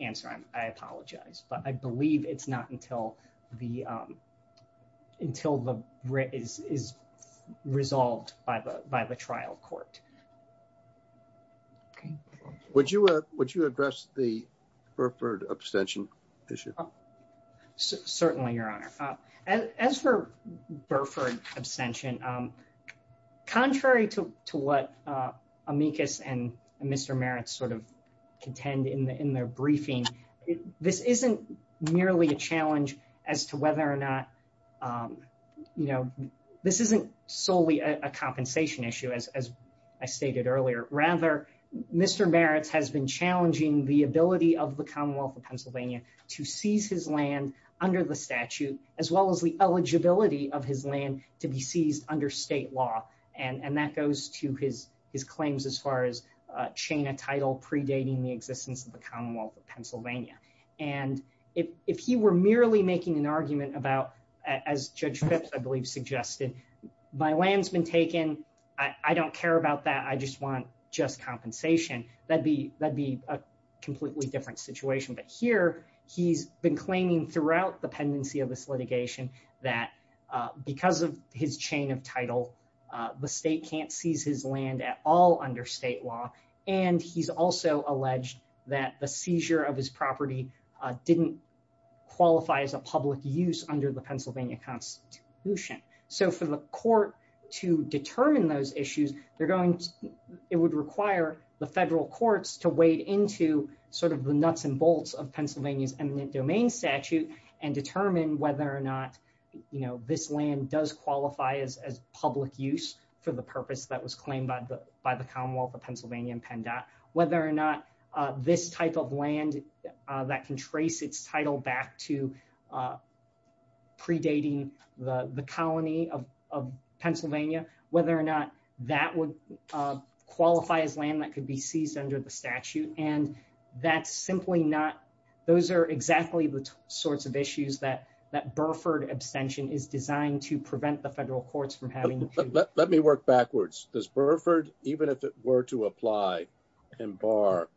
answer. I apologize, but I believe it's not until the writ is resolved by the trial court. Okay. Would you address the Burford abstention issue? Certainly, Your Honor. As for Burford abstention, contrary to what Amicus and Mr. Meritz sort of contend in their briefing, this isn't merely a challenge as to whether or not, you know, this isn't solely a compensation issue, as I stated earlier. Rather, Mr. Meritz has been challenging the ability of the Commonwealth of Pennsylvania to seize his land under the statute, as well as the eligibility of his land to be seized under state law. And that goes to his claims as far as chain a title predating the existence of the Commonwealth of Pennsylvania. And if he were merely making an argument about, as Judge Phipps, I believe, suggested, my land's been taken. I don't care about that. I just want just compensation. That'd be a completely different situation. But here, he's been claiming throughout the pendency of this litigation that because of his chain of title, the state can't seize his land at all under state law. And he's also alleged that the seizure of his property didn't qualify as a public use under the Pennsylvania Constitution. So for the court to determine those issues, they're going to, it would require the federal courts to wade into sort of the nuts and bolts of Pennsylvania's eminent domain statute and determine whether or not, you know, this land does qualify as public use for the purpose that was claimed by the Commonwealth of Pennsylvania and PennDOT, whether or not this type of land that can trace its title back to predating the colony of Pennsylvania, whether or not that would qualify as land that could be seized under the statute. And that's simply not, those are exactly the sorts of issues that that Burford abstention is designed to prevent the federal courts from having. Let me work backwards. Does Burford, even if it were to apply and bar,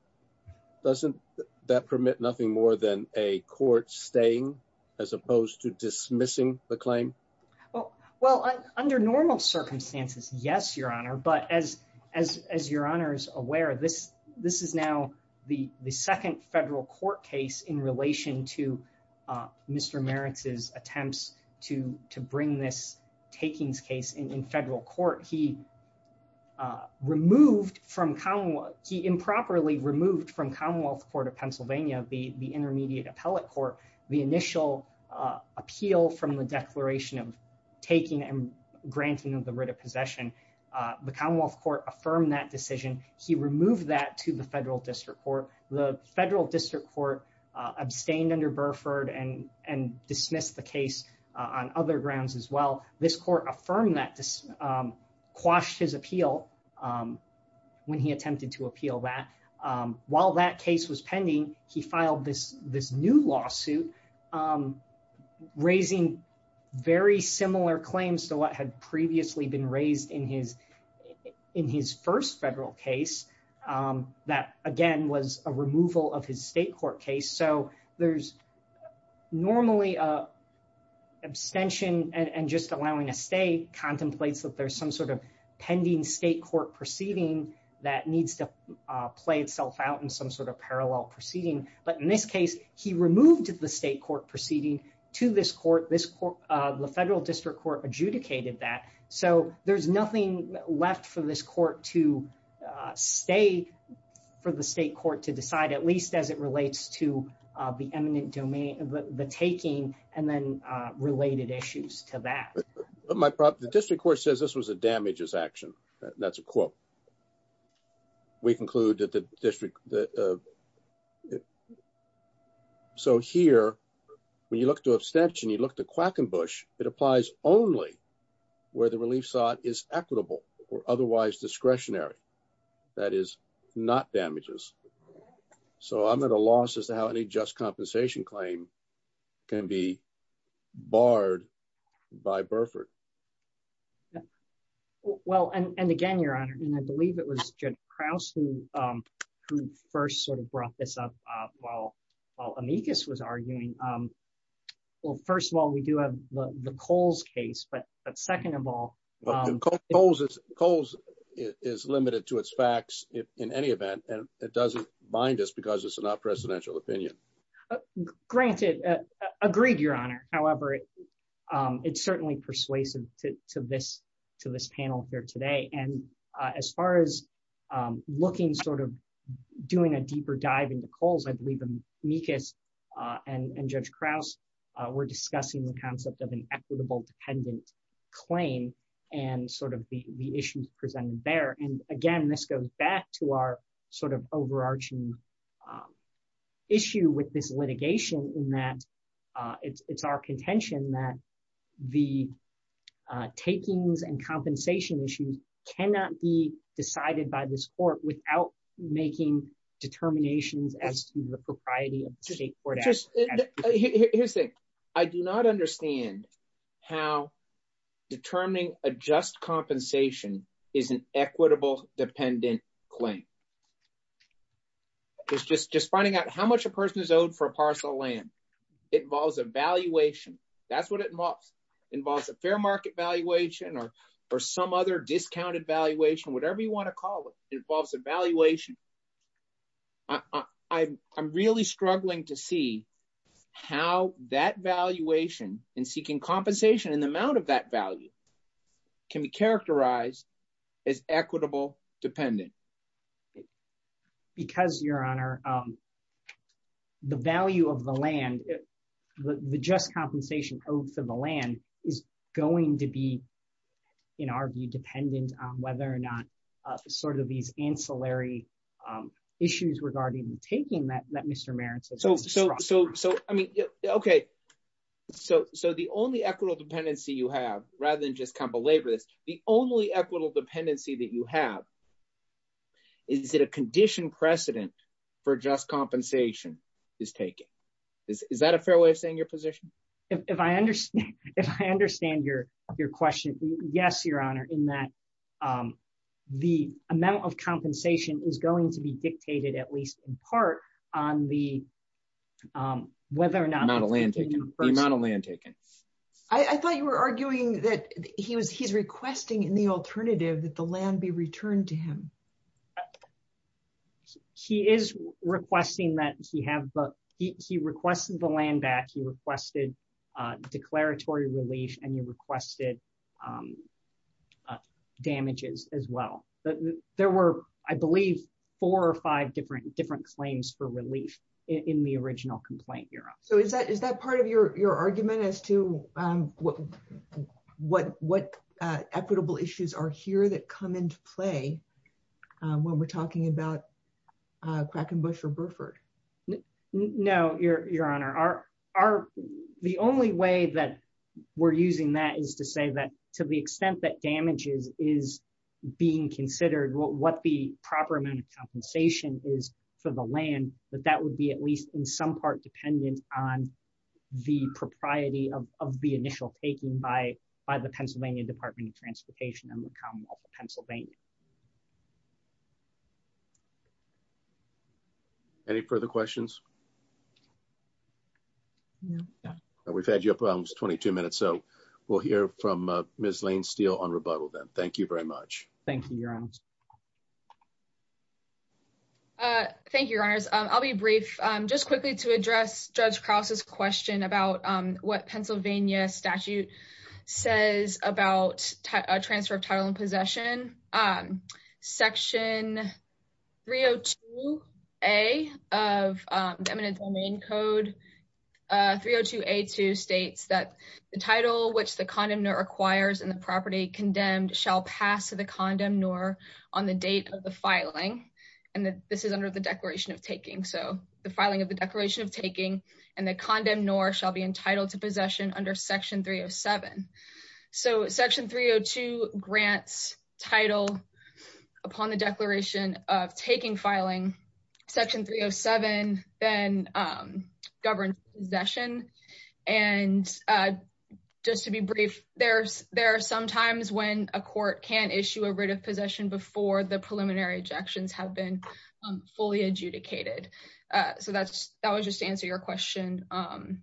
doesn't that permit nothing more than a court staying as opposed to dismissing the claim? Well, under normal circumstances, yes, your honor. But as your honors aware, this is now the second federal court case in relation to Mr. Maritz's attempts to bring this takings case in federal court. He removed from, he improperly removed from Commonwealth Court of Pennsylvania, the intermediate appellate court, the initial appeal from the declaration of taking and granting of the writ of possession. The Commonwealth Court affirmed that decision. He removed that to the federal district court. The federal district court abstained under Burford and dismissed the case on other grounds as well. This court affirmed that, quashed his appeal when he attempted to appeal that. While that case was pending, he filed this new lawsuit raising very similar claims to what had previously been raised in his first federal case. That again was a removal of his state court case. So there's normally an abstention and just allowing a state contemplates that there's some sort of pending state court proceeding that needs to play itself out in some sort of parallel proceeding. But in this case, he removed the state court proceeding to this court. The federal district court adjudicated that. So there's left for this court to stay, for the state court to decide at least as it relates to the eminent domain, the taking and then related issues to that. The district court says this was a damages action. That's a quote. We conclude that the district, so here, when you look to abstention, you look to Quackenbush, it applies only where the relief is equitable or otherwise discretionary. That is not damages. So I'm at a loss as to how any just compensation claim can be barred by Burford. Well, and again, your honor, and I believe it was Jed Krause who, who first sort of brought this up while while amicus was arguing. Well, first of all, we do have the Coles case, but second of all, Coles, Coles is limited to its facts, if in any event, and it doesn't mind us because it's not presidential opinion. Granted, agreed, your honor. However, it's certainly persuasive to this, to this panel here today. And as far as looking sort of doing a deeper dive into Coles, I believe amicus and Judge Krause were discussing the concept of an equitable dependent claim, and sort of the issues presented there. And again, this goes back to our sort of overarching issue with this litigation in that it's our contention that the takings and compensation issues cannot be decided by this court without making determinations as to the propriety of the state court. Here's the thing. I do not understand how determining a just compensation is an equitable dependent claim. It's just just finding out how much a person is owed for a parcel of land. It involves a valuation. That's what it involves. It involves a fair market valuation or, or some other discounted valuation, whatever you want to call it involves a valuation. I'm, I'm really struggling to see how that valuation and seeking compensation in the amount of that value can be characterized as equitable dependent. Because your honor, the value of the land, the just compensation owed for the land is going to be, in our view, dependent on whether or not sort of these ancillary issues regarding the taking that Mr. Merritt has just described. So, so, so, so, I mean, okay. So, so the only equitable dependency you have, rather than just kind of belabor this, the only equitable dependency that you have is that a condition precedent for just compensation is taken. Is that a fair way of saying your position? If I understand, if I understand your, your question, yes, your honor, in that the amount of compensation is going to be dictated, at least in part, on the whether or not the amount of land taken. I thought you were arguing that he was, he's requesting in the He is requesting that he have, he requested the land back, he requested declaratory relief, and you requested damages as well. But there were, I believe, four or five different, different claims for relief in the original complaint, your honor. So is that, is that part of your, your argument as to what, what, what equitable issues are here that come into play when we're talking about Quackenbush or Burford? No, your, your honor, our, our, the only way that we're using that is to say that to the extent that damages is being considered, what the proper amount of compensation is for the land, that that would be at least in some part dependent on the propriety of the initial taking by, by the Pennsylvania. Any further questions? We've had you up almost 22 minutes, so we'll hear from Ms. Lane-Steele on rebuttal then. Thank you very much. Thank you, your honor. Thank you, your honors. I'll be brief, just quickly to address Judge Krause's question about what Pennsylvania statute says about a transfer of title and possession. Section 302A of the eminent domain code, 302A2 states that the title which the condemnor acquires in the property condemned shall pass to the condemnor on the date of the filing, and that this is under the declaration of taking. So the filing of the declaration of taking and the condemnor shall be entitled to possession under section 307. So section 302 grants title upon the declaration of taking filing. Section 307 then governs possession. And just to be brief, there's, there are some times when a court can issue a writ of possession before the preliminary ejections have been fully adjudicated. So that's, that was just to answer your question on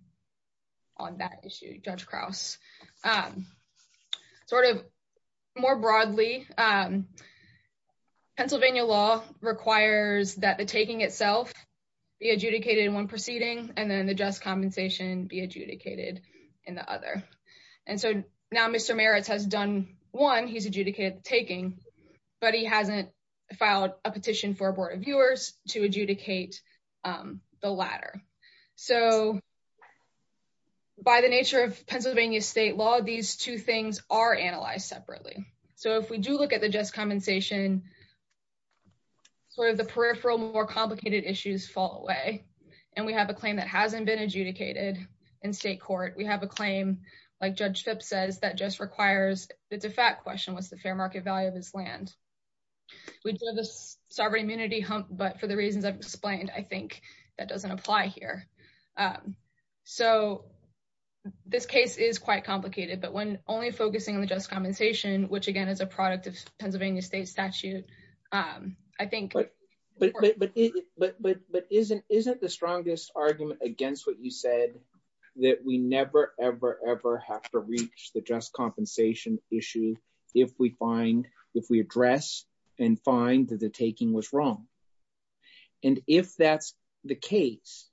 that issue, Judge Krause. Sort of more broadly, Pennsylvania law requires that the taking itself be adjudicated in one proceeding and then the just compensation be adjudicated in the other. And so now Mr. Maritz has done one, he's adjudicated the taking, but he hasn't filed a petition for a board of viewers to adjudicate the latter. So by the nature of Pennsylvania state law, these two things are analyzed separately. So if we do look at the just compensation, sort of the peripheral more complicated issues fall away. And we have a claim that hasn't been adjudicated in state court. We have a claim, like Judge Phipps says, that just requires, it's a fact question, what's the fair market value of his land? We do have this sovereign immunity hump, but for the reasons I've explained, I think that doesn't apply here. So this case is quite complicated, but when only focusing on the just compensation, which again is a product of Pennsylvania state statute, I think- But isn't the strongest argument against what you said that we never, ever, ever have to reach the just compensation issue if we find, if we address and find that the taking was wrong. And if that's the case,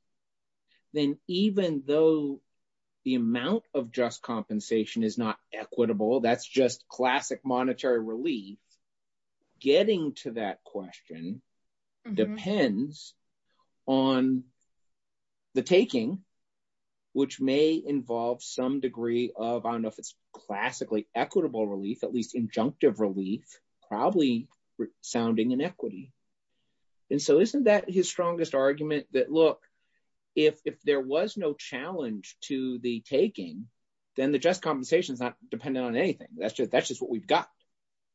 then even though the amount of just compensation is not equitable, that's just classic monetary relief, getting to that question depends on the taking, which may involve some degree of, I don't know if it's classically equitable relief, at least injunctive relief, probably sounding inequity. And so isn't that his strongest argument that, look, if there was no challenge to the taking, then the just compensation is not dependent on anything, that's just what we've got.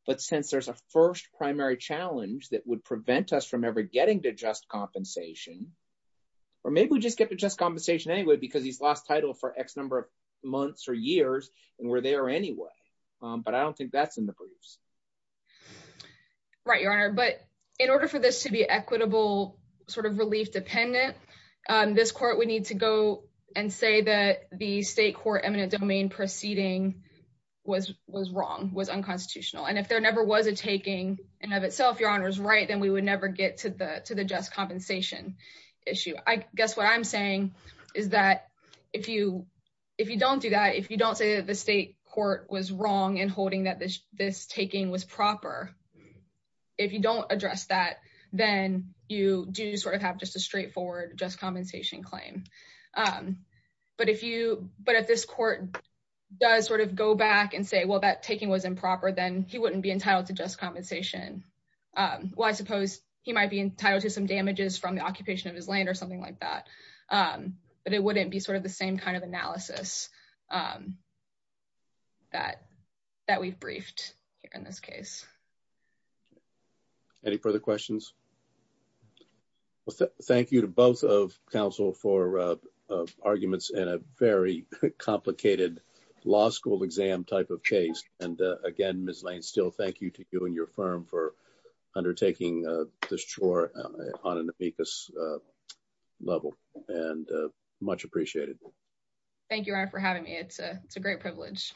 But since there's a first primary challenge that would prevent us from ever getting to just compensation, or maybe we just get to just compensation anyway because he's lost title for X number of months or years and we're there anyway, but I don't think that's in the briefs. Right, Your Honor, but in order for this to be equitable sort of relief dependent, this court would need to go and say that the state court eminent domain proceeding was wrong, was unconstitutional. And if there never was a taking and of itself, Your Honor is right, then we would never get to the just compensation issue. I guess what I'm saying is that if you don't do that, if you don't say that the state court was wrong in holding that this taking was proper, if you don't address that, then you do sort of have just a straightforward just compensation claim. But if you, but if this court does sort of go back and say, well, that taking was improper, then he wouldn't be entitled to just compensation. Well, I suppose he might be entitled to some damages from the occupation of his land or something like that. But it wouldn't be sort of the same kind of analysis that we've briefed here in this case. Any further questions? Well, thank you to both of counsel for arguments in a very complicated law school exam type of case. And again, Ms. Lane, still thank you to you and your firm for undertaking this chore on an amicus level and much appreciated. Thank you, Your Honor, for having me. It's a great privilege.